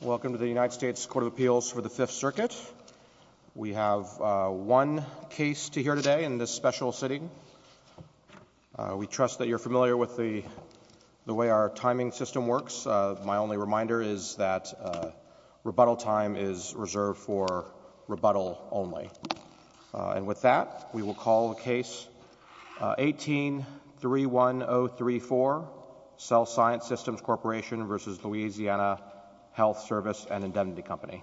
Welcome to the United States Court of Appeals for the Fifth Circuit. We have one case to hear today in this special sitting. We trust that you're familiar with the the way our timing system works. My only reminder is that rebuttal time is reserved for rebuttal only. And with that we will call the case 18-31034 Cell Science Systems Corp. v. Louisiana Hlth Svc. and Indemnity Company.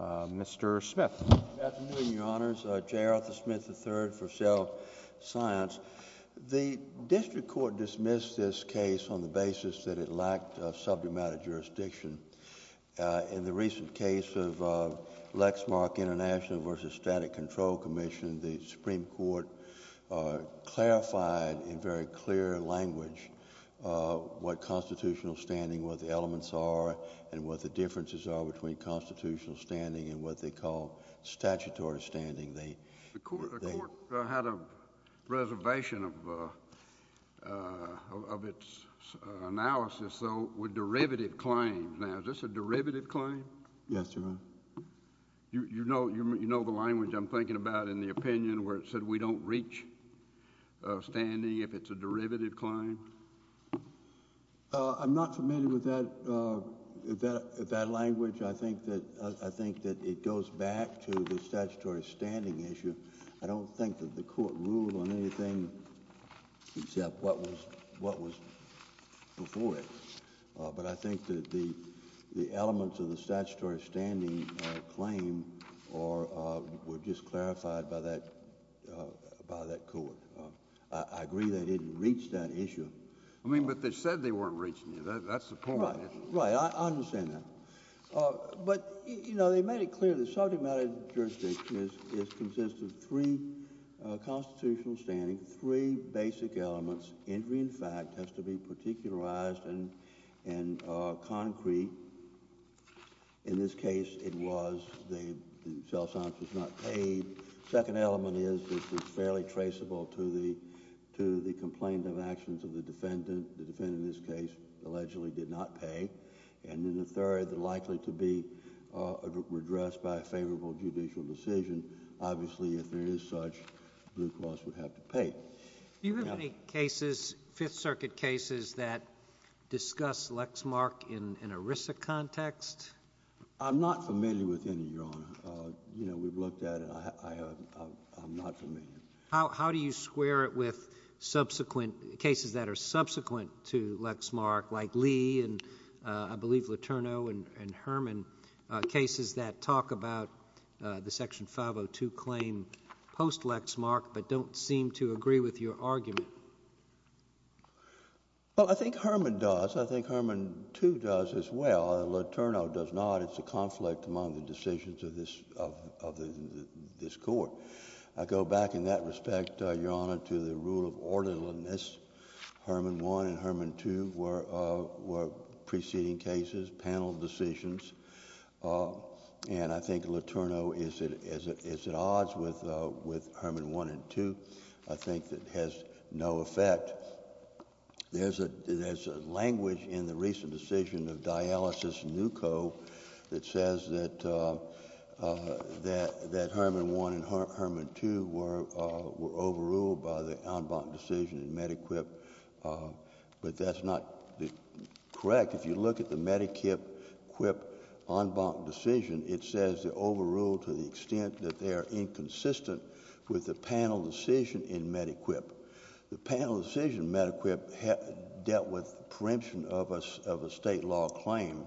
Mr. Smith. Good afternoon, Your Honors. J. Arthur Smith III for Cell Science. The District Court dismissed this case on the basis that it lacked sub-domestic jurisdiction. In the recent case of Lexmark International v. Static Control Commission, the Supreme Court clarified in very clear language what constitutional standing, what the elements are, and what the differences are between constitutional standing and what they call statutory standing. The Court had a reservation of its analysis, though, with derivative claims. Now, is this a derivative claim? Yes, Your Honor. You know the language I'm thinking about in the opinion where it said we don't reach standing if it's a derivative claim? I'm not familiar with that language. I think that it goes back to the statutory standing issue. I don't think that the Court ruled on anything except what was before it. But I think that the elements of the statutory standing claim were just clarified by that Court. I agree they didn't reach that issue. I mean, but they said they weren't reaching it. That's the point. Right. I understand that. But, you know, they made it clear that subject matter jurisdiction is consistent with three constitutional standing, three basic elements. Injury in fact has to be particularized and concrete. In this case, it was the self-sense was not paid. The second element is it's fairly traceable to the complaint of actions of the defendant. The defendant in this case allegedly did not pay. And then the third, likely to be addressed by a favorable judicial decision. Obviously, if there is such, Blue Cross would have to pay. Do you have any cases, Fifth Circuit cases that discuss Lexmark in an ERISA context? I'm not familiar with any, Your Honor. You know, we've looked at it. I'm not familiar. How do you square it with subsequent cases that are subsequent to Lexmark, like Lee and I believe Letourneau and Herman, cases that talk about the ERISA context? I don't agree with your argument. Well, I think Herman does. I think Herman, too, does as well. Letourneau does not. It's a conflict among the decisions of this Court. I go back in that respect, Your Honor, to the rule of orderliness. Herman 1 and Herman 2 were preceding cases, panel decisions. And I think Letourneau is at the center of that conflict. It has no effect. There's a language in the recent decision of Dialysis Newco that says that Herman 1 and Herman 2 were overruled by the en banc decision in MediQuip. But that's not correct. If you look at the MediQuip en banc decision, it says they're overruled to the extent that they are inconsistent with the panel decision in MediQuip. The panel decision in MediQuip dealt with the preemption of a state law claim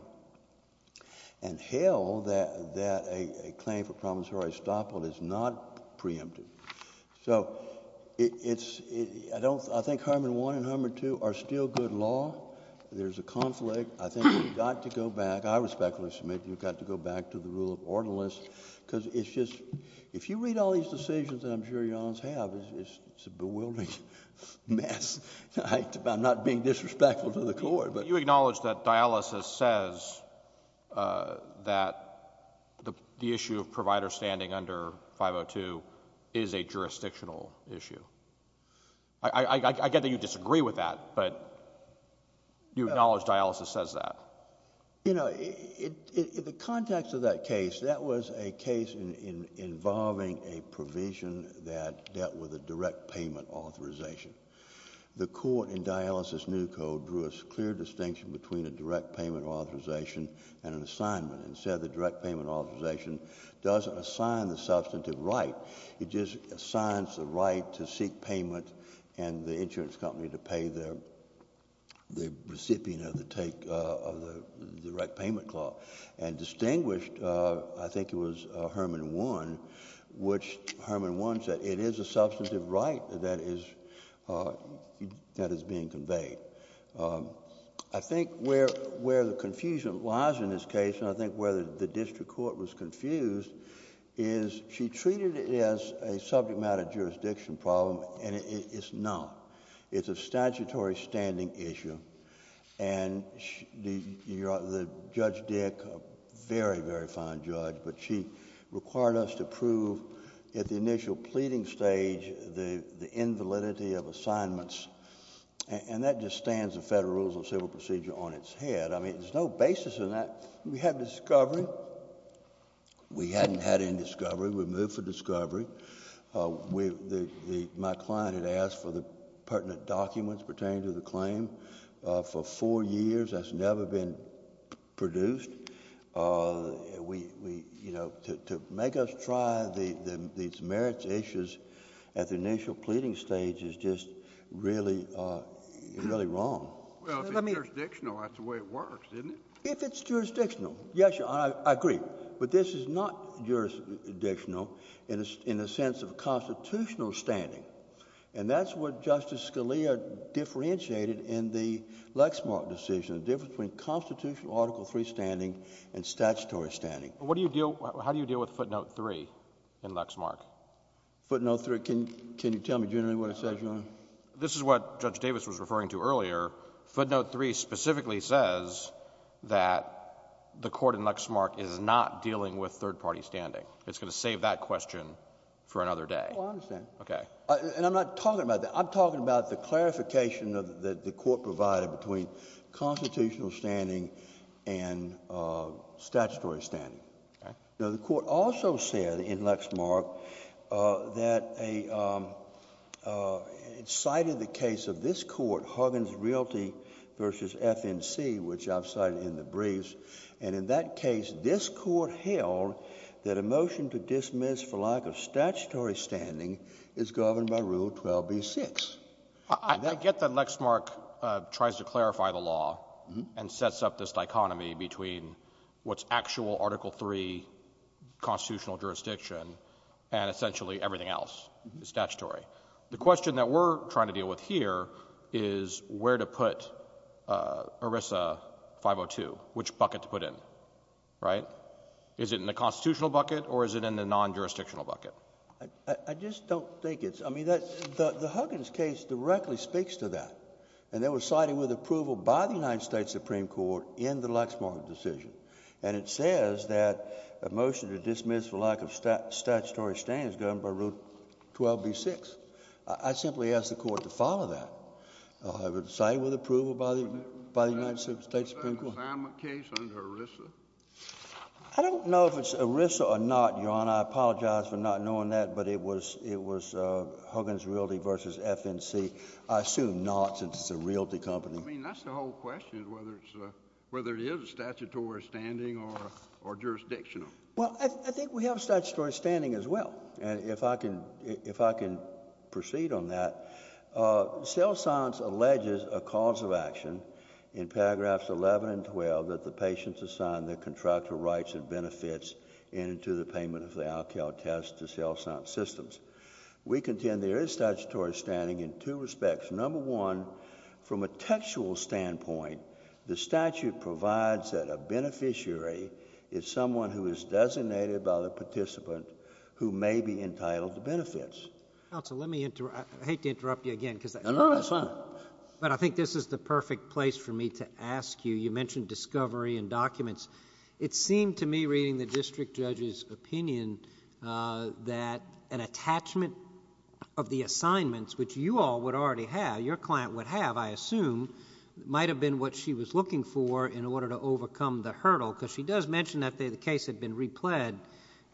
and held that a claim for promissory estoppel is not preempted. So I think Herman 1 and Herman 2 are still good law. There's a conflict. I think we've got to go back. I respectfully submit we've got to go back to the rule of orderliness because it's just... if you read all these decisions that I'm sure Your Honors have, it's a bewildering mess. I'm not being disrespectful to the Court, but... But you acknowledge that Dialysis says that the issue of providers standing under 502 is a jurisdictional issue. I get that you disagree with that, but you acknowledge Dialysis says that. You know, in the context of that case, that was a case involving a provision that dealt with a direct payment authorization. The Court in Dialysis New Code drew a clear distinction between a direct payment authorization and an assignment and said the direct payment authorization doesn't assign the substantive right. It just assigns the right to seek payment and the right payment clause. And distinguished, I think it was Herman 1, which Herman 1 said it is a substantive right that is being conveyed. I think where the confusion lies in this case, and I think where the District Court was confused, is she treated it as a subject matter jurisdiction problem and it's not. It's a statutory standing issue. And Judge Dick, a very, very fine judge, but she required us to prove at the initial pleading stage the invalidity of assignments. And that just stands the Federal Rules of Civil Procedure on its head. I mean, there's no basis in that. We had had indiscovery. We moved for discovery. My client had asked for the pertinent documents pertaining to the claim. For four years, that's never been produced. We, you know, to make us try these merits issues at the initial pleading stage is just really, really wrong. Well, if it's jurisdictional, that's the way it works, isn't it? If it's jurisdictional, yes, Your Honor, I agree. But this is not jurisdictional in the sense of constitutional standing. And that's what Justice Scalia differentiated in the Lexmark decision, the difference between constitutional Article III standing and statutory standing. What do you deal — how do you deal with footnote 3 in Lexmark? Footnote 3. Can you tell me generally what it says, Your Honor? This is what Judge Davis was referring to earlier. Footnote 3 specifically says that the court in Lexmark is not dealing with third-party standing. It's going to save that question for another day. Well, I understand. Okay. And I'm not talking about that. I'm talking about the clarification that the court provided between constitutional standing and statutory standing. Okay. Now, the court also said in Lexmark that a — it cited the case of this court, Huggins Realty v. FNC, which I've cited in the briefs. And in that case, this court held that a motion to dismiss for lack of statutory standing is governed by Rule 12b-6. I get that Lexmark tries to clarify the law and sets up this dichotomy between what's actual Article III constitutional jurisdiction and essentially everything else is statutory. The question that we're trying to deal with here is where to put ERISA 502, which bucket to put in, right? Is it in the constitutional bucket or is it in the non-jurisdictional bucket? I just don't think it's — I mean, the Huggins case directly speaks to that. And they were cited with approval by the United States Supreme Court in the Lexmark decision. And it says that a motion to dismiss for lack of statutory standing is governed by Rule 12b-6. I simply ask the court to follow that. I would say with approval by the United States Supreme Court. Was that an assignment case under ERISA? I don't know if it's ERISA or not, Your Honor. I apologize for not knowing that. But it was — it was Huggins Realty v. FNC. I assume not, since it's a realty company. I mean, that's the whole question, whether it's — whether it is statutory standing or jurisdictional. Well, I think we have statutory standing as well. And if I can — if I can proceed on that, cell science alleges a cause of action in paragraphs 11 and 12 that the patient's assigned the contractual rights and benefits in and to the payment of the alkyl test to cell science systems. We contend there is statutory standing in two respects. Number one, from a textual standpoint, the statute provides that a beneficiary is someone who is designated by the participant who may be entitled to benefits. Counsel, let me — I hate to interrupt you again, because — No, no, that's fine. But I think this is the perfect place for me to ask you. You mentioned discovery and documents. It seemed to me, reading the district judge's opinion, that an attachment of the assignments, which you all would already have, your client would have, I assume, might have been what she was looking for in order to provide the assignment. She does mention that the case had been repled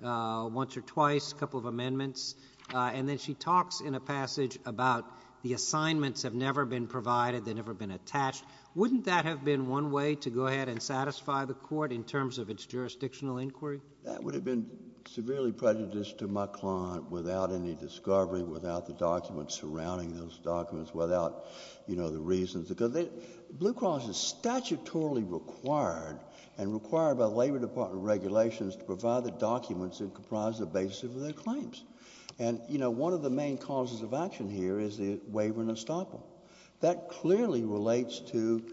once or twice, a couple of amendments. And then she talks in a passage about the assignments have never been provided, they've never been attached. Wouldn't that have been one way to go ahead and satisfy the court in terms of its jurisdictional inquiry? That would have been severely prejudiced to my client without any discovery, without the documents surrounding those documents, without, you know, the reasons. Because Blue Cross is statutorily required and required by the Labor Department regulations to provide the documents that comprise the basis of their claims. And, you know, one of the main causes of action here is the waiver and estoppel. That clearly relates to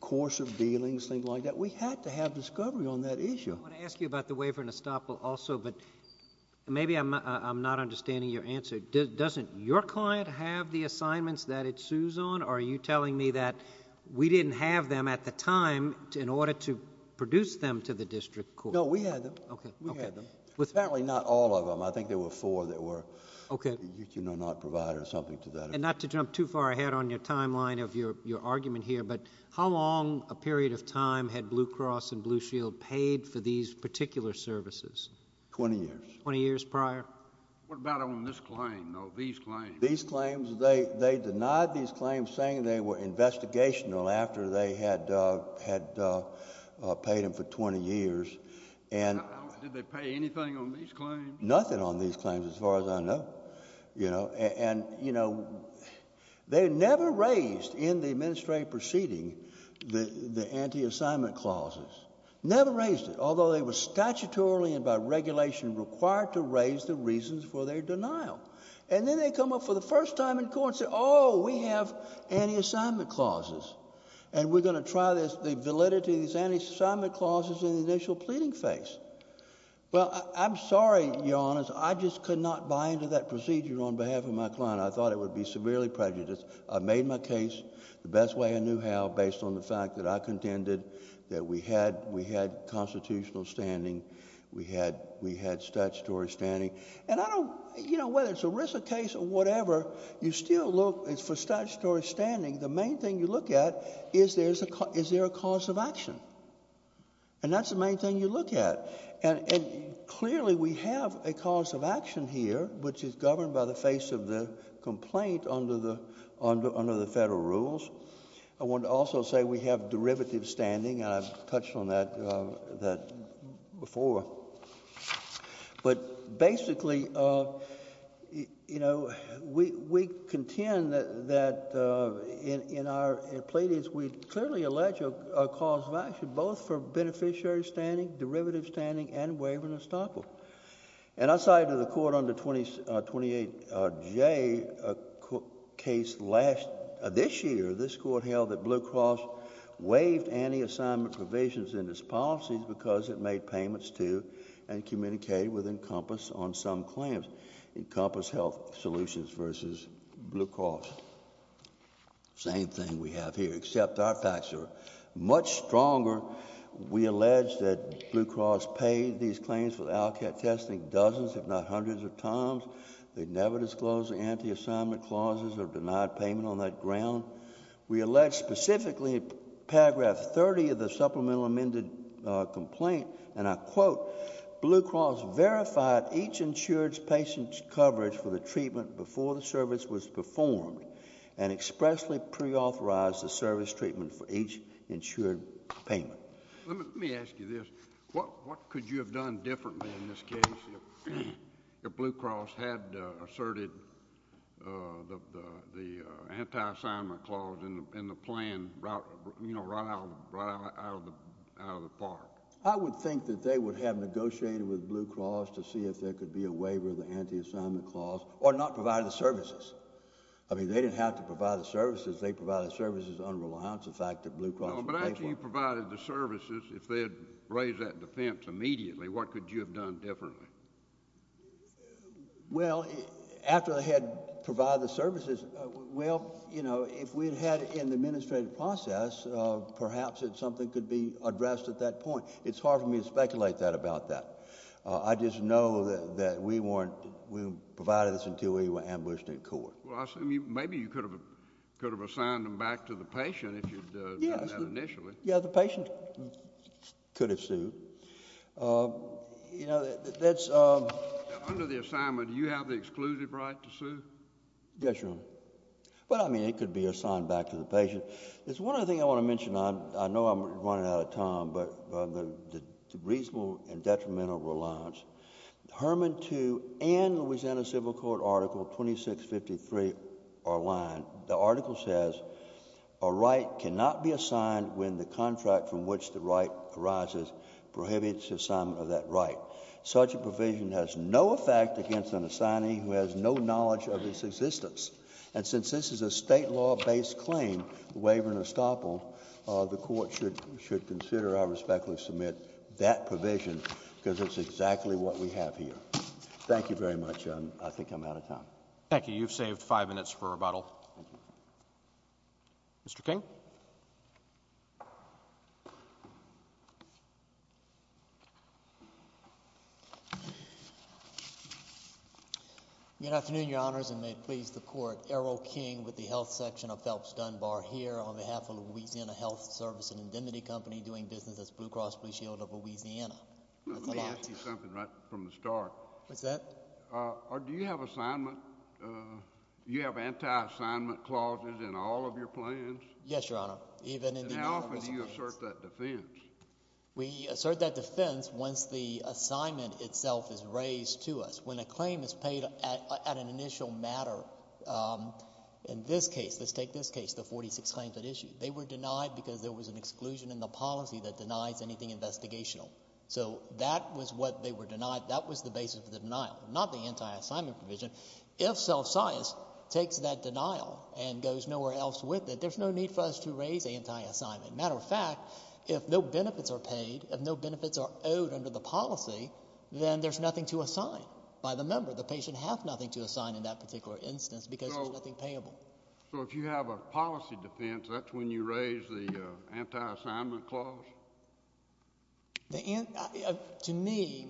course of dealings, things like that. We had to have discovery on that issue. I want to ask you about the waiver and estoppel also, but maybe I'm not understanding your answer. Doesn't your client have the assignments that it sues on? Or are you telling me that we didn't have them at the time in order to produce them to the district court? No, we had them. Okay. We had them. Apparently not all of them. I think there were four that were, you know, not provided or something to that effect. And not to jump too far ahead on your timeline of your argument here, but how long a period of time had Blue Cross and Blue Shield paid for these particular services? Twenty years. Twenty years prior? What about on this claim, though, these claims? These claims, they denied these claims, saying they were investigational after they had paid them for twenty years. And did they pay anything on these claims? Nothing on these claims as far as I know, you know. And you know, they never raised in the administrative proceeding the anti-assignment clauses. Never raised it. Although they were statutorily and by regulation required to raise the reasons for their denial. And then they come up for the first time in court and say, oh, we have anti-assignment clauses. And we're going to try this. The validity of these anti-assignment clauses in the initial pleading phase. Well, I'm sorry, Your Honor, I just could not buy into that procedure on behalf of my client. I thought it would be severely prejudiced. I made my case the best way I knew how based on the fact that I contended that we had constitutional standing, we had statutory standing. And I don't, you know, whether it's a Risa case or whatever, you still look for statutory standing. The main thing you look at is there a cause of action. And that's the main thing you look at. And clearly we have a cause of action here, which is governed by the face of the complaint under the federal rules. I want to also say we have derivative standing, and I've touched on that before. But basically, you know, we contend that in our pleadings, we clearly allege a cause of action both for beneficiary standing, derivative standing, and waive and estoppel. And outside of the court under 28J case last... this year, this court held that Blue Cross waived anti-assignment provisions in its policies because it made payments to and communicated with Encompass on some claims. Encompass Health Solutions versus Blue Cross. Same thing we have here, except our facts are much stronger. We allege that Blue Cross paid these claims for the LCAT testing dozens, if not hundreds, of times. They never disclosed the anti-assignment clauses or denied payment on that ground. We allege specifically in paragraph 30 of the supplemental amended complaint, and I quote, Blue Cross verified each insured patient's coverage for the treatment before the service was performed and expressly pre-authorized the service treatment for each insured payment. Let me ask you this, what could you have done differently in this case if Blue Cross had asserted the anti-assignment clause in the plan, you know, in part? I would think that they would have negotiated with Blue Cross to see if there could be a waiver of the anti-assignment clause, or not provide the services. I mean, they didn't have to provide the services. They provided the services on reliance, the fact that Blue Cross paid for... No, but after you provided the services, if they had raised that defense immediately, what could you have done differently? Well, after they had provided the services, well, you know, if we had had that in the administrative process, perhaps something could be addressed at that point. It's hard for me to speculate that, about that. I just know that we weren't... we provided this until we were ambushed in court. Well, I assume you... maybe you could have assigned them back to the patient if you had done that initially. Yes. Yeah, the patient could have sued. You know, that's... Under the assignment, do you have the exclusive right to sue? Yes, Your Honor. Well, I mean, it could be assigned back to the patient. There's one other thing I want to mention. I know I'm running out of time, but the reasonable and detrimental reliance, Herman 2 and Louisiana Civil Court Article 2653 are aligned. The article says, a right cannot be assigned when the contract from which the right arises prohibits the assignment of that right. Such a provision has no effect against an assignee who has no knowledge of its existence. And since this is a state law-based claim, the waiver and estoppel, the Court should consider, I respectfully submit, that provision because it's exactly what we have here. Thank you very much. I think I'm out of time. Thank you. You've saved five minutes for rebuttal. Mr. King? Good afternoon, Your Honors, and may it please the Court, Errol King with the Health Section of Phelps-Dunbar here on behalf of Louisiana Health Service and Indemnity Company doing business as Blue Cross Blue Shield of Louisiana. That's a lot. Let me ask you something right from the start. What's that? Do you have assignment, do you have anti-assignment clauses in all of your plans? Yes, Your Honor. Even in the... And how often do you assert that defense? We assert that defense once the assignment itself is raised to us. When a claim is paid at an initial matter, in this case, let's take this case, the forty-six claims at issue, they were denied because there was an exclusion in the policy that denies anything investigational. So that was what they were denied. That was the basis of the denial, not the anti-assignment provision. If self-science takes that denial and goes nowhere else with it, there's no need for us to raise anti-assignment. As a matter of fact, if no benefits are paid, if no benefits are owed under the policy, then there's nothing to assign by the member. The patient has nothing to assign in that particular instance because there's nothing payable. So if you have a policy defense, that's when you raise the anti-assignment clause? To me,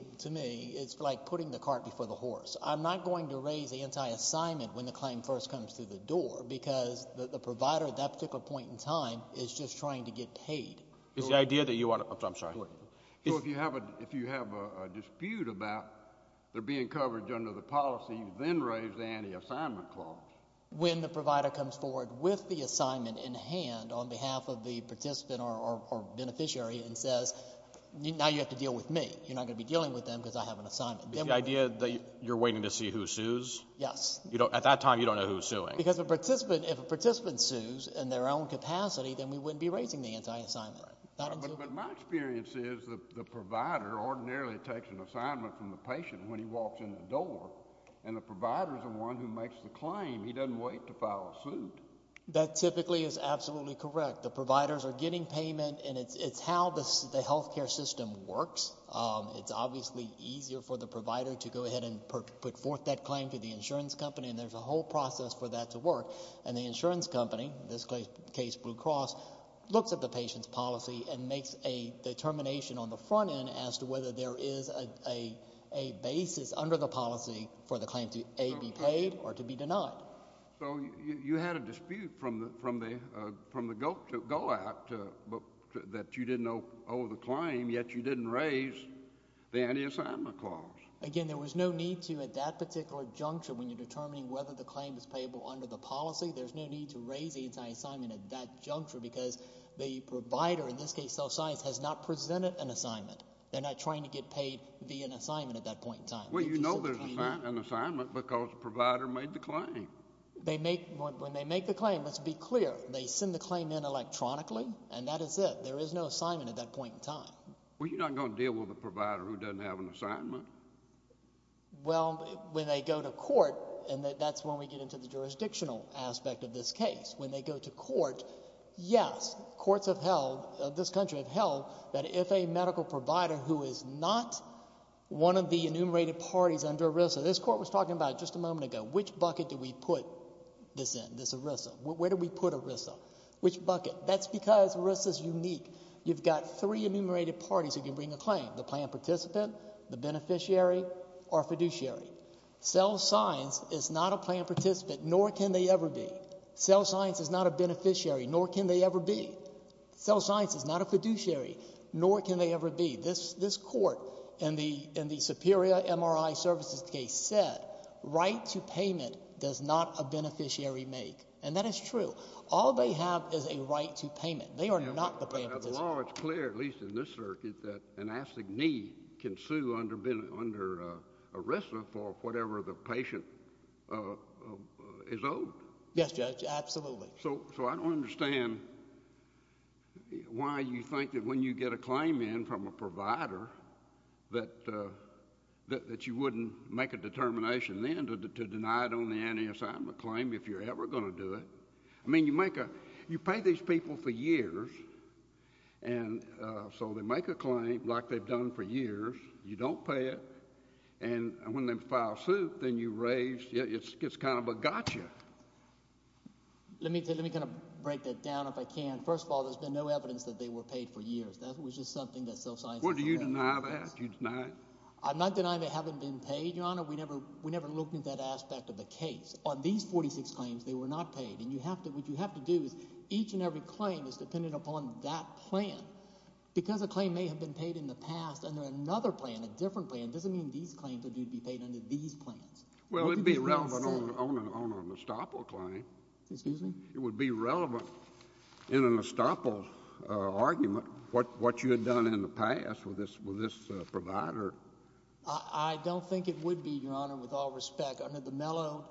it's like putting the cart before the horse. I'm not going to raise anti-assignment when the claim first comes through the door because the provider at that particular point in time is just trying to get paid. It's the idea that you want... I'm sorry. Exactly. So if you have a dispute about there being coverage under the policy, you then raise the anti-assignment clause? When the provider comes forward with the assignment in hand on behalf of the participant or beneficiary and says, now you have to deal with me. You're not going to be dealing with them because I have an assignment. The idea that you're waiting to see who sues? Yes. At that time, you don't know who's suing. Because if a participant sues in their own capacity, then we wouldn't be raising the anti-assignment. But my experience is that the provider ordinarily takes an assignment from the patient when he walks in the door, and the provider is the one who makes the claim. He doesn't wait to file a suit. That typically is absolutely correct. The providers are getting payment, and it's how the health care system works. It's obviously easier for the provider to go ahead and put forth that claim to the insurance company, and there's a whole process for that to work. And the insurance company, in this case, Blue Cross, looks at the patient's policy and makes a determination on the front end as to whether there is a basis under the policy for the claim to, A, be paid or to be denied. So you had a dispute from the GO Act that you didn't owe the claim, yet you didn't raise the anti-assignment clause. Again, there was no need to at that particular juncture when you're determining whether the claim is payable under the policy, there's no need to raise the anti-assignment at that juncture, because the provider, in this case, Health Science, has not presented an assignment. They're not trying to get paid via an assignment at that point in time. Well, you know there's an assignment, because the provider made the claim. They make, when they make the claim, let's be clear, they send the claim in electronically, and that is it. There is no assignment at that point in time. Well, you're not going to deal with a provider who doesn't have an assignment. Well, when they go to court, and that's when we get into the jurisdictional aspect of this case, when they go to court, yes, courts have held, this country have held, that if a medical provider who is not one of the enumerated parties under ERISA, this Court was talking about just a moment ago, which bucket do we put this in, this ERISA? Where do we put ERISA? Which bucket? That's because ERISA's unique. You've got three enumerated parties who can bring a claim, the plan participant, the beneficiary, or fiduciary. Cell science is not a plan participant, nor can they ever be. Cell science is not a beneficiary, nor can they ever be. Cell science is not a fiduciary, nor can they ever be. This Court in the Superior MRI Services case said, right to payment does not a beneficiary make, and that is true. All they have is a right to payment. They are not the plan participant. The law is clear, at least in this circuit, that an assignee can sue under ERISA for whatever the patient is owed. Yes, Judge, absolutely. So I don't understand why you think that when you get a claim in from a provider that you wouldn't make a determination then to deny it on the anti-assignment claim if you're ever going to do it. I mean, you make a—you pay these people for years, and so they make a claim like they've done for years. You don't pay it, and when they file suit, then you raise—it's kind of a gotcha. Let me kind of break that down if I can. First of all, there's been no evidence that they were paid for years. That was just something that cell science— Well, do you deny that? Do you deny it? I'm not denying they haven't been paid, Your Honor. We never looked at that aspect of the case. On these 46 claims, they were not paid, and you have to—what you have to do is each and every claim is dependent upon that plan. Because a claim may have been paid in the past under another plan, a different plan, it doesn't mean these claims are due to be paid under these plans. Well, it would be relevant on a Nestopil claim. Excuse me? It would be relevant in a Nestopil argument what you had done in the past with this provider. I don't think it would be, Your Honor, with all respect. Under the mellow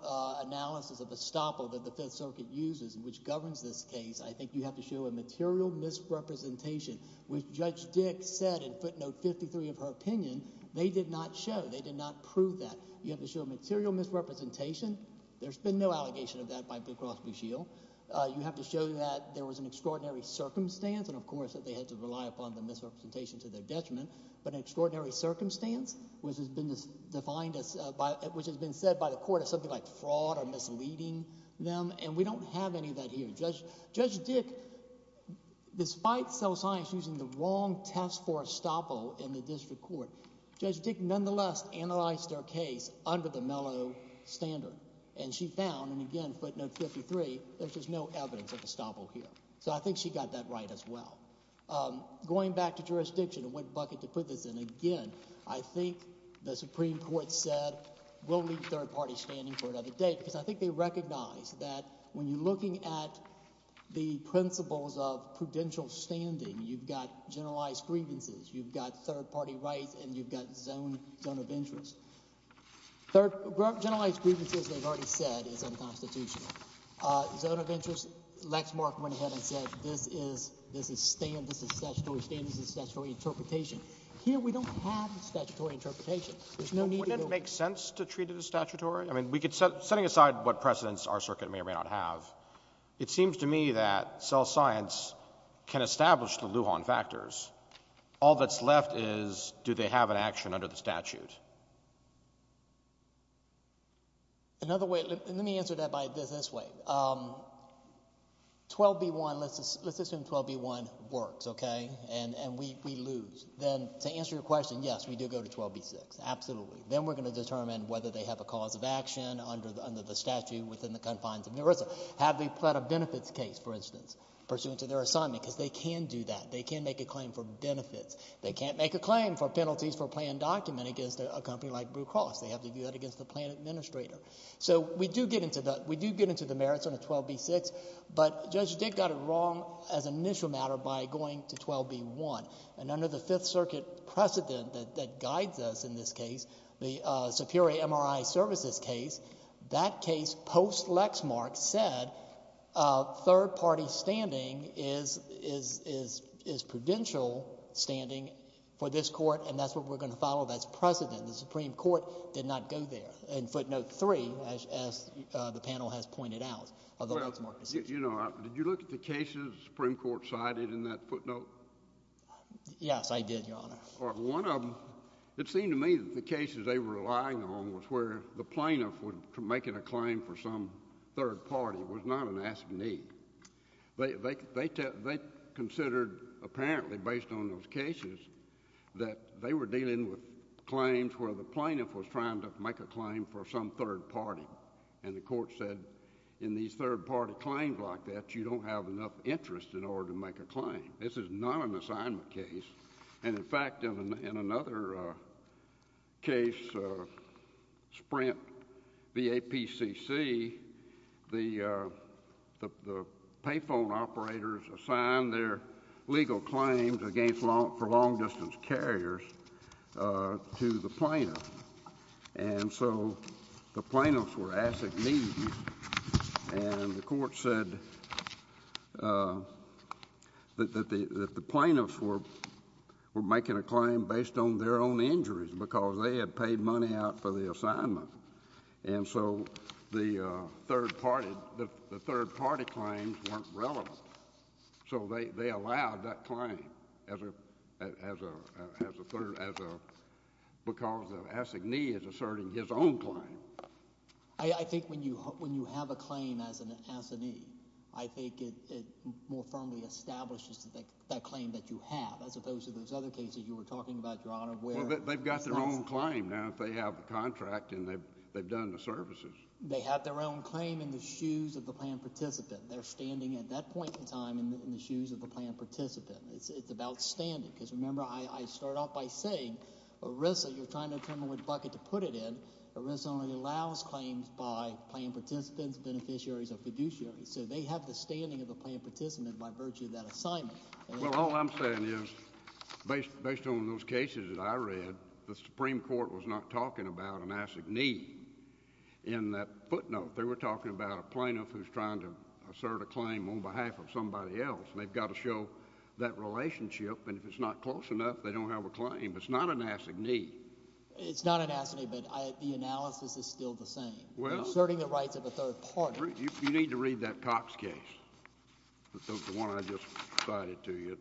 analysis of Nestopil that the Fifth Circuit uses, which governs this case, I think you have to show a material misrepresentation, which Judge Dick said in footnote 53 of her opinion, they did not show. They did not prove that. You have to show a material misrepresentation. There's been no allegation of that by Booker Rothschild. You have to show that there was an extraordinary circumstance, and of course that they had to rely upon the misrepresentation to their detriment, but an extraordinary circumstance, which has been defined as, which has been said by the court as something like fraud or misleading them, and we don't have any of that here. Judge Dick, despite cell science using the wrong test for Nestopil in the district court, Judge Dick nonetheless analyzed their case under the mellow standard, and she found, and again, footnote 53, there's just no evidence of Nestopil here. So I think she got that right as well. Going back to jurisdiction and what bucket to put this in, again, I think the Supreme Court said, we'll leave third-party standing for another day, because I think they recognize that when you're looking at the principles of prudential standing, you've got generalized grievances, you've got third-party rights, and you've got zone of interest. Generalized grievances, they've already said, is unconstitutional. Zone of interest, Lexmark went ahead and said, this is statutory standing, this is statutory interpretation. Here, we don't have statutory interpretation. Wouldn't it make sense to treat it as statutory? I mean, setting aside what precedents our circuit may or may not have, it seems to me that cell science can establish the Lujan factors. All that's left is, do they have an action under the statute? Another way, let me answer that by it this way, 12b1, let's assume 12b1 works, okay, and we lose. Then, to answer your question, yes, we do go to 12b6, absolutely. Then we're going to determine whether they have a cause of action under the statute within the confines of NERISA. Have they filed a benefits case, for instance, pursuant to their assignment, because they can do that. They can make a claim for benefits. They can't make a claim for penalties for a planned document against a company like Blue Cross. They have to do that against the plan administrator. We do get into the merits under 12b6, but Judge Dick got it wrong as an initial matter by going to 12b1. Under the Fifth Circuit precedent that guides us in this case, the Superior MRI Services case, that case, post Lexmark, said third-party standing is prudential standing for this court, and that's what we're going to follow. That's precedent. The Supreme Court did not go there in footnote 3, as the panel has pointed out, of the Lexmark decision. Well, you know, did you look at the cases the Supreme Court cited in that footnote? Yes, I did, Your Honor. Well, one of them, it seemed to me that the cases they were relying on was where the plaintiff was making a claim for some third party, was not an asking need. They considered, apparently, based on those cases, that they were dealing with claims where the plaintiff was trying to make a claim for some third party, and the court said, in these third-party claims like that, you don't have enough interest in order to make a claim. This is not an assignment case, and, in fact, in another case, Sprint V.A.P.C.C., the payphone operators assigned their legal claims against, for long-distance carriers, to the plaintiff, and so the plaintiffs were asking needs, and the court said that the plaintiff was making a claim based on their own injuries, because they had paid money out for the assignment, and so the third-party claims weren't relevant, so they allowed that claim, because the asking need is asserting his own claim. I think when you have a claim as an asking need, I think it more firmly establishes that claim that you have, as opposed to those other cases you were talking about, Your Honor, where... Well, they've got their own claim now if they have the contract and they've done the services. They have their own claim in the shoes of the planned participant. They're standing at that point in time in the shoes of the planned participant. It's about standing, because remember, I start off by saying, Orissa, you're trying to turn the wood bucket to put it in. Orissa only allows claims by planned participants, beneficiaries, or fiduciaries, so they have the standing of the planned participant by virtue of that assignment. Well, all I'm saying is, based on those cases that I read, the Supreme Court was not talking about an asking need in that footnote. They were talking about a plaintiff who's trying to assert a claim on behalf of somebody else, and they've got to show that relationship, and if it's not close enough, they don't have a claim. It's not an asking need. It's not an asking need, but the analysis is still the same. You're asserting the rights of a third party. You need to read that Cox case, the one I just cited to you.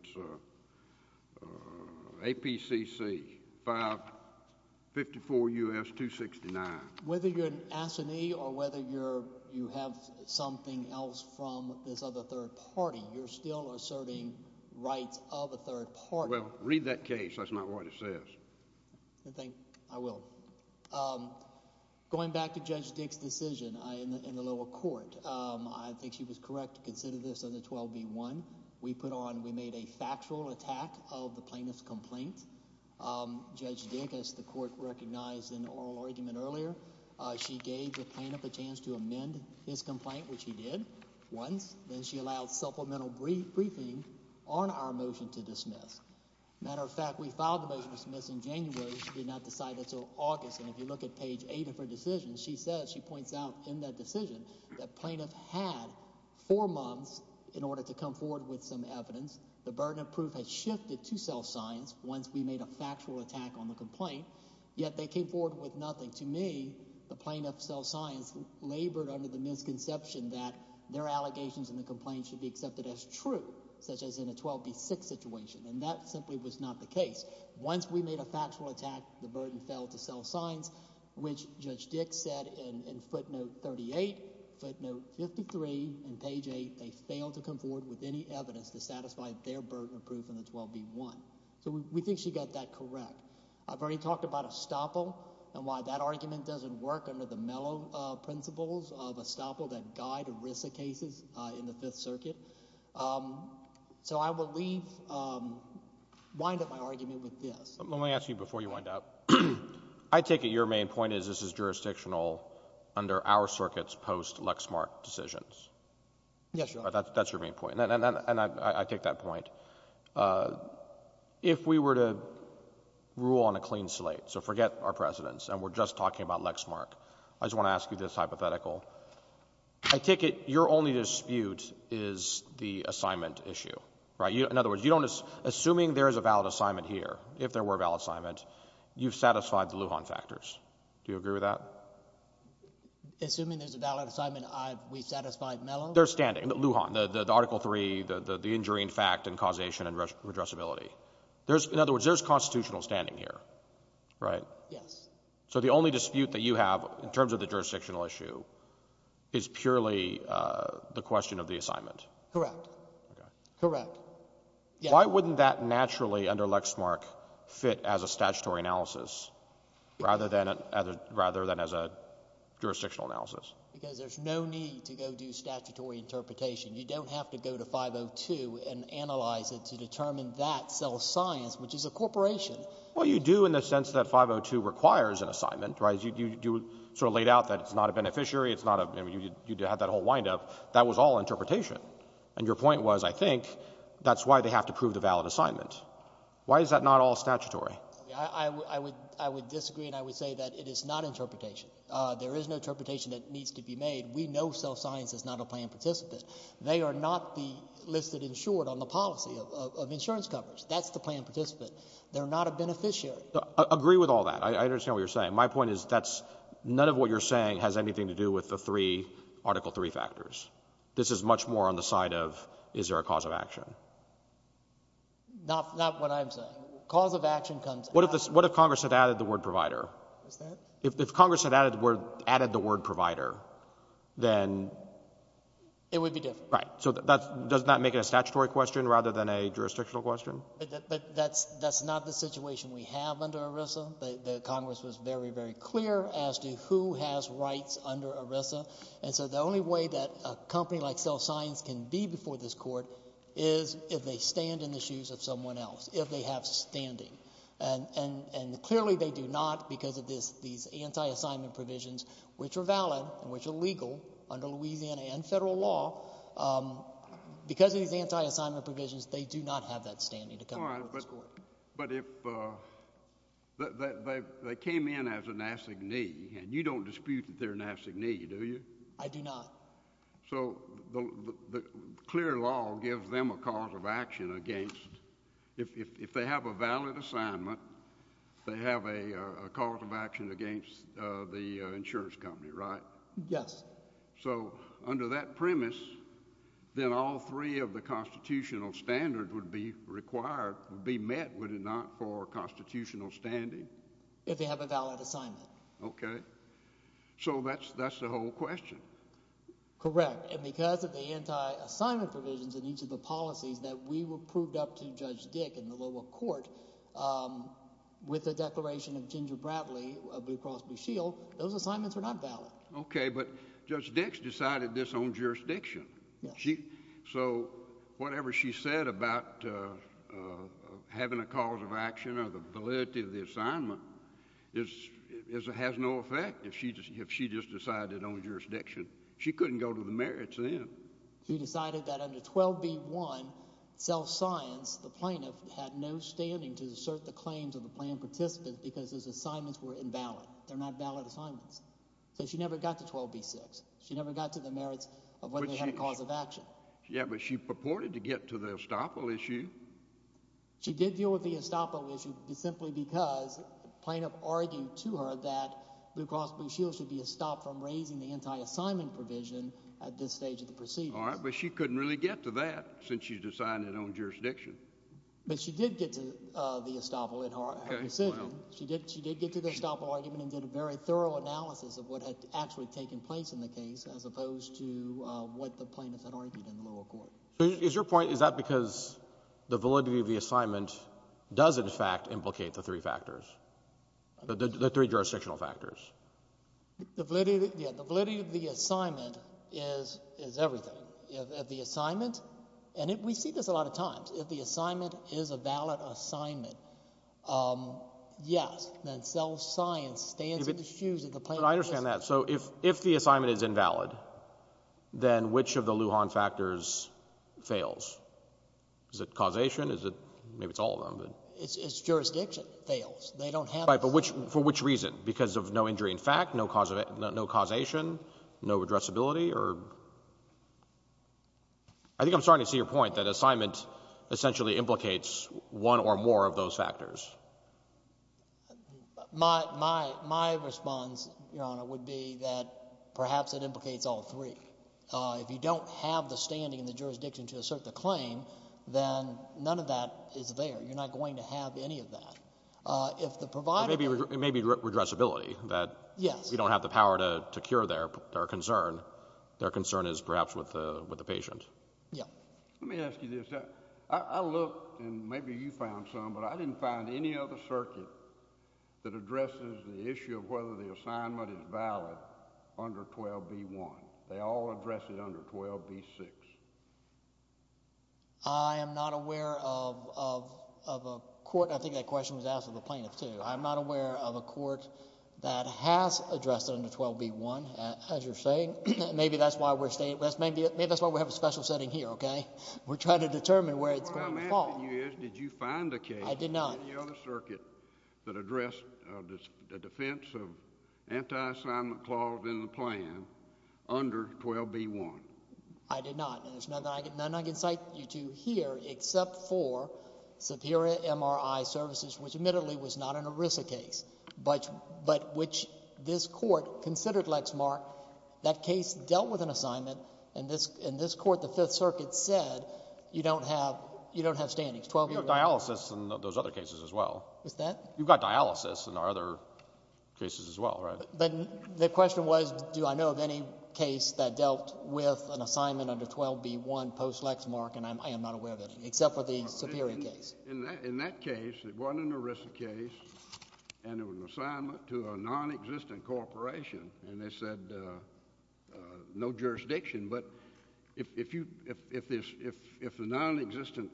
It's APCC 554 U.S. 269. Whether you're an asking need or whether you have something else from this other third party, you're still asserting rights of a third party. Well, read that case. That's not what it says. I think I will. Going back to Judge Dick's decision in the lower court, I think she was correct to consider this as a 12B1. We made a factual attack of the plaintiff's complaint. Judge Dick, as the court recognized in the oral argument earlier, she gave the plaintiff a chance to amend his complaint, which he did once. Then she allowed supplemental briefing on our motion to dismiss. Matter of fact, we filed the motion to dismiss in January. She did not decide until August. And if you look at page eight of her decision, she says, she points out in that decision that plaintiff had four months in order to come forward with some evidence. The burden of proof has shifted to self-science once we made a factual attack on the complaint, yet they came forward with nothing. To me, the plaintiff's self-science labored under the misconception that their allegations in the complaint should be accepted as true, such as in a 12B6 situation. And that simply was not the case. Once we made a factual attack, the burden fell to self-science, which Judge Dick said in footnote 38, footnote 53, and page eight, they failed to come forward with any evidence to satisfy their burden of proof in the 12B1. So we think she got that correct. I've already talked about estoppel and why that argument doesn't work under the mellow principles of estoppel that guide ERISA cases in the Fifth Circuit. So I will leave, wind up my argument with this. Let me ask you before you wind up. I take it your main point is this is jurisdictional under our circuit's post-Lexmark decisions. Yes, Your Honor. That's your main point. And I take that point. If we were to rule on a clean slate, so forget our precedents, and we're just talking about Lexmark, I just want to ask you this hypothetical. I take it your only dispute is the assignment issue, right? In other words, you don't, assuming there is a valid assignment here, if there were a valid assignment, you've satisfied the Lujan factors. Do you agree with that? Assuming there's a valid assignment, we satisfied mellow? They're standing, Lujan, the Article III, the injuring fact and causation and redressability. There's, in other words, there's constitutional standing here, right? Yes. So the only dispute that you have in terms of the jurisdictional issue is purely the question of the assignment? Correct. Correct. Why wouldn't that naturally under Lexmark fit as a statutory analysis rather than as a jurisdictional analysis? Because there's no need to go do statutory interpretation. You don't have to go to 502 and analyze it to determine that self-science, which is a corporation. Well, you do in the sense that 502 requires an assignment, right? You sort of laid out that it's not a beneficiary. You had that whole windup. That was all interpretation. And your point was, I think, that's why they have to prove the valid assignment. Why is that not all statutory? I would disagree and I would say that it is not interpretation. There is no interpretation that needs to be made. We know self-science is not a plan participant. They are not the listed insured on the policy of insurance coverage. That's the plan participant. They're not a beneficiary. Agree with all that. I understand what you're saying. My point is that none of what you're saying has anything to do with the three Article III factors. This is much more on the side of, is there a cause of action? Not what I'm saying. Cause of action comes... What if Congress had added the word provider? If Congress had added the word provider, then... It would be different. Right. So does that make it a statutory question rather than a jurisdictional question? But that's not the situation we have under ERISA. The Congress was very, very clear as to who has rights under ERISA. And so the only way that a company like self-science can be before this court is if they stand in the shoes of someone else, if they have standing. And clearly they do not because of these anti-assignment provisions, which are valid and which are legal under Louisiana and federal law. Because of these anti-assignment provisions, they do not have that standing to come before this court. But if they came in as an assignee, and you don't dispute that they're an assignee, do you? I do not. So the clear law gives them a cause of action against, if they have a valid assignment, they have a cause of action against the insurance company, right? Yes. So under that premise, then all three of the constitutional standards would be required, would be met, would it not, for constitutional standing? If they have a valid assignment. Okay. So that's the whole question. Correct. And because of the anti-assignment provisions in each of the policies that we were proved up to Judge Dick in the lower court with the declaration of Ginger Bradley, Blue Cross Blue Shield, those assignments were not valid. Okay. But Judge Dick's decided this on jurisdiction. So whatever she said about having a cause of action or the validity of the assignment has no effect if she just decided on jurisdiction. She couldn't go to the merits then. She decided that under 12b-1, self-science, the plaintiff had no standing to assert the claims of the plaintiff participant because his assignments were invalid. They're not valid assignments. So she never got to 12b-6. She never got to the merits of whether they had a cause of action. Yeah, but she purported to get to the estoppel issue. She did deal with the estoppel issue simply because the plaintiff argued to her that Blue Cross Blue Shield should be stopped from raising the anti-assignment provision at this stage of the proceedings. All right. But she couldn't really get to that since she's decided on jurisdiction. But she did get to the estoppel in her decision. She did get to the estoppel argument and did a very thorough analysis of what had actually taken place in the case as opposed to what the plaintiff had argued in the lower court. So is your point, is that because the validity of the assignment does in fact implicate the three factors, the three jurisdictional factors? The validity of the assignment is everything. If the assignment, and we see this a lot of times, if the assignment is a valid assignment, yes, then self-science stands in the shoes of the plaintiff. But I understand that. So if the assignment is invalid, then which of the Lujan factors fails? Is it causation? Is it, maybe it's all of them, but... It's jurisdiction fails. They don't have... Right, but for which reason? Because of no injury in fact, no causation, no addressability, or... I think I'm starting to see your point that assignment essentially implicates one or more of those factors. My response, Your Honor, would be that perhaps it implicates all three. If you don't have the standing and the jurisdiction to assert the claim, then none of that is there. You're not going to have any of that. If the provider... It may be redressability that... Yes. ...you don't have the power to cure their concern. Their concern is perhaps with the patient. Yeah. Let me ask you this. I looked and maybe you found some, but I didn't find any other circuit that addresses the issue of whether the assignment is valid under 12b-1. They all address it under 12b-6. I am not aware of a court... I think that question was asked of a plaintiff too. I'm not aware of a court that has addressed it under 12b-1, as you're saying. Maybe that's why we're staying... Maybe that's why we have a special setting here, okay? We're trying to determine where it's going to fall. What I'm asking you is, did you find a case... I did not. ...on the circuit that addressed the defense of anti-assignment clause in the plan under 12b-1? I did not. And there's nothing I can cite you to here except for Superior MRI Services, which admittedly was not an ERISA case, but which this court considered, Lex Mark, that case dealt with an assignment, and this court, the Fifth Circuit, said you don't have standings, 12b-1. You've got dialysis in those other cases as well. What's that? You've got dialysis in our other cases as well, right? But the question was, do I know of any case that dealt with an assignment under 12b-1 post-Lex Mark, and I am not aware of it, except for the Superior case. In that case, it wasn't an ERISA case, and it was an assignment to a non-existent corporation, and they said no jurisdiction, but if the non-existent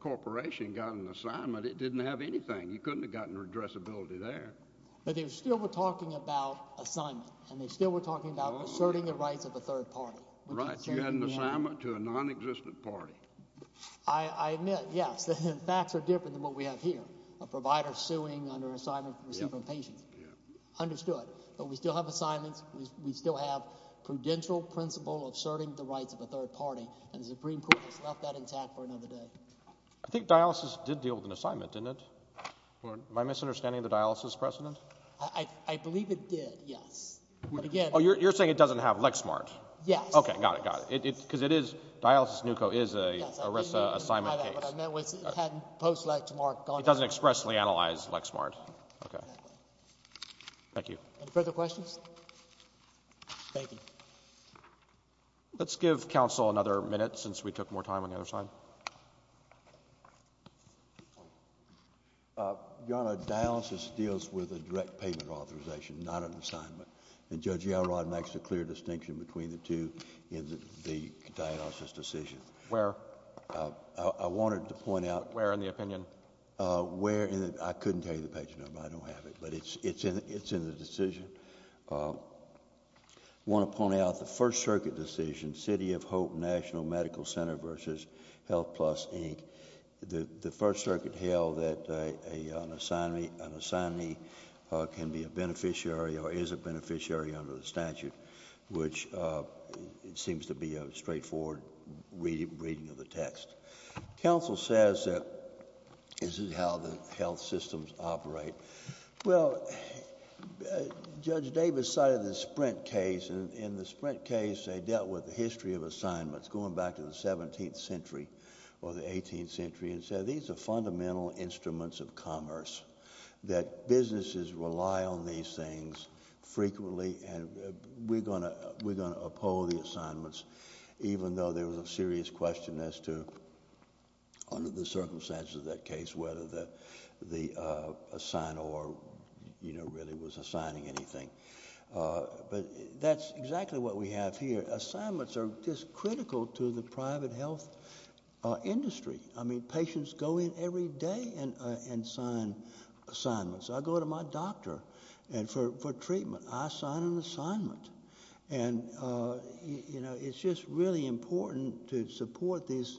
corporation got an assignment, it didn't have anything. You couldn't have gotten redressability there. But they still were talking about assignment, and they still were talking about asserting the rights of a third party. Right. You had an assignment to a non-existent party. I admit, yes, the facts are different than what we have here, a provider suing under assignment to receive a patient. Understood. But we still have assignments. We still have prudential principle of asserting the rights of a third party, and the Supreme Court has left that intact for another day. I think dialysis did deal with an assignment, didn't it? Am I misunderstanding the dialysis precedent? I believe it did, yes. Oh, you're saying it doesn't have Lexmark? Yes. Okay, got it, got it. Because it is, dialysis NUCO is an ERISA assignment case. I meant post-Lexmark. It doesn't expressly analyze Lexmark. Okay, thank you. Any further questions? Thank you. Let's give counsel another minute since we took more time on the other side. Your Honor, dialysis deals with a direct payment authorization, not an assignment. And Judge Yelrod makes a clear distinction between the two in the dialysis decision. Where? I wanted to point out— Where in the opinion? Where in the— I couldn't tell you the page number. I don't have it, but it's in the decision. I want to point out the First Circuit decision, City of Hope National Medical Center versus Health Plus, Inc. The First Circuit held that an assignee can be a beneficiary or is a beneficiary under the statute, which seems to be a straightforward reading of the text. Counsel says that this is how the health systems operate. Well, Judge Davis cited the Sprint case. In the Sprint case, they dealt with the history of assignments, going back to the 17th century or the 18th century, and said these are fundamental instruments of commerce, that businesses rely on these things frequently, and we're going to uphold the assignments, even though there was a serious question as to, under the circumstances of that case, whether the assigner really was assigning anything. But that's exactly what we have here. Assignments are just critical to the private health industry. I mean, patients go in every day and sign assignments. I go to my doctor for treatment. I sign an assignment. And, you know, it's just really important to support these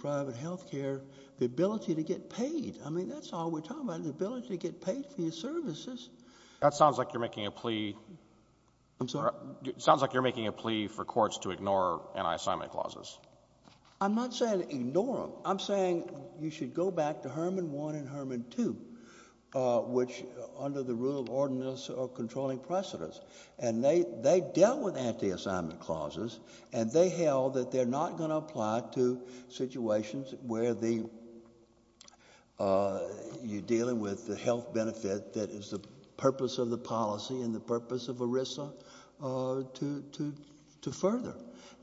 private health care, the ability to get paid. I mean, that's all we're talking about, the ability to get paid for your services. That sounds like you're making a plea for courts to ignore anti-assignment clauses. I'm not saying ignore them. I'm saying you should go back to Herman 1 and Herman 2, which under the Rule of Ordinance are controlling precedents. And they dealt with anti-assignment clauses, and they held that they're not going to apply to situations where you're dealing with the health benefit that is the purpose of the policy and the purpose of ERISA to further.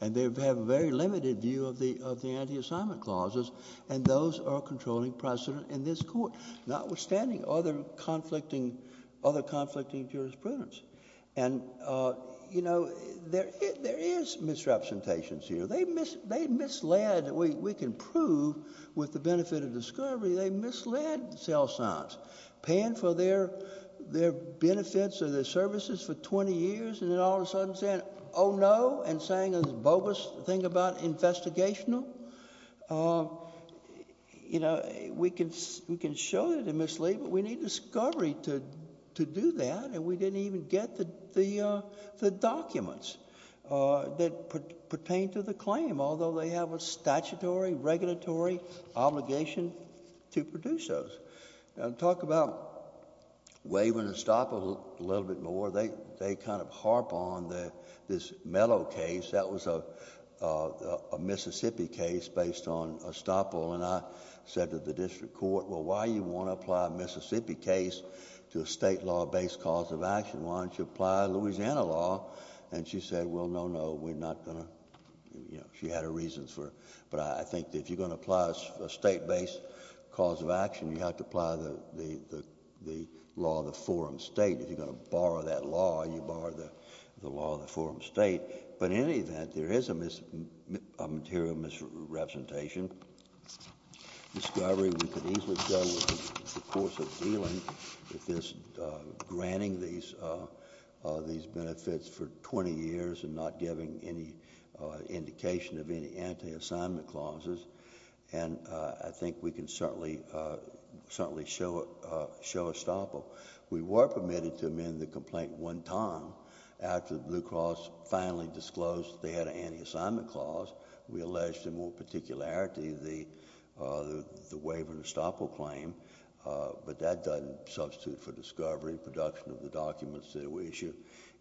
And they have a very limited view of the anti-assignment clauses, and those are controlling precedent in this court, notwithstanding other conflicting jurisprudence. And, you know, there is misrepresentations here. They misled, we can prove with the benefit of discovery, they misled sales signs. Paying for their benefits or their services for 20 years, and then all of a sudden saying, oh, no, and saying a bogus thing about investigational. You know, we can show that they mislead, but we need discovery to do that. And we didn't even get the documents that pertain to the claim, although they have a statutory, regulatory obligation to produce those. Now, to talk about Waver and Estoppel a little bit more, they kind of harp on this Mello case. That was a Mississippi case based on Estoppel, and I said to the district court, well, why do you want to apply a Mississippi case to a state law-based cause of action? Why don't you apply Louisiana law? And she said, well, no, no, we're not going to. You know, she had her reasons for it. But I think if you're going to apply a state-based cause of action, you have to apply the law of the forum state. If you're going to borrow that law, you borrow the law of the forum state. But in any event, there is a material misrepresentation. Discovery, we could easily go with the course of dealing with this, granting these benefits for 20 years and not giving any indication of any anti-assignment clauses. And I think we can certainly show Estoppel. We were permitted to amend the complaint one time after the Blue Cross finally disclosed they had an anti-assignment clause. We alleged in more particularity the waiver in Estoppel claim, but that doesn't substitute for discovery, production of the documents that were issued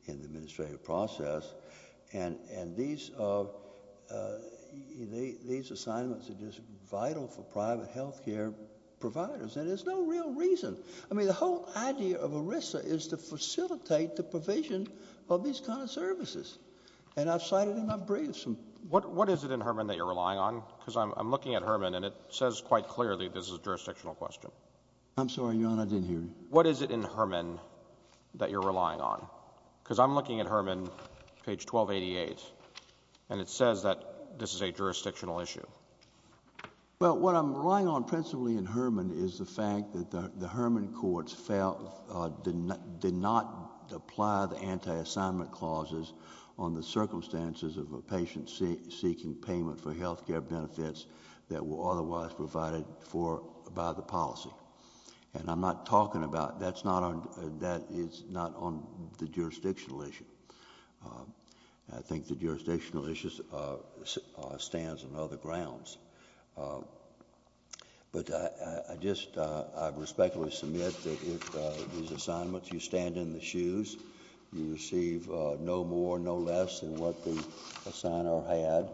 in the administrative process. And these assignments are just vital for private health care providers. And there's no real reason. I mean, the whole idea of ERISA is to facilitate the provision of these kind of services. And I've cited in my briefs. What is it in Herman that you're relying on? Because I'm looking at Herman and it says quite clearly this is a jurisdictional question. I'm sorry, Your Honor, I didn't hear you. What is it in Herman that you're relying on? Because I'm looking at Herman, page 1288, and it says that this is a jurisdictional issue. Well, what I'm relying on principally in Herman is the fact that the Herman courts did not apply the anti-assignment clauses on the circumstances of a patient seeking payment for health care benefits that were otherwise provided for by the policy. And I'm not talking about that's not on that is not on the jurisdictional issue. I think the jurisdictional issues stands on other grounds. But I just respectfully submit that if these assignments you stand in the shoes, you receive no more, no less than what the assigner had.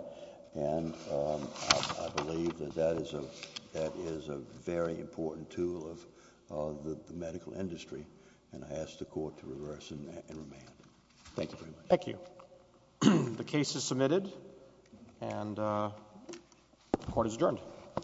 And I believe that that is a very important tool of the medical industry. And I ask the court to reverse and remand. Thank you very much. Thank you. The case is submitted and the court is adjourned.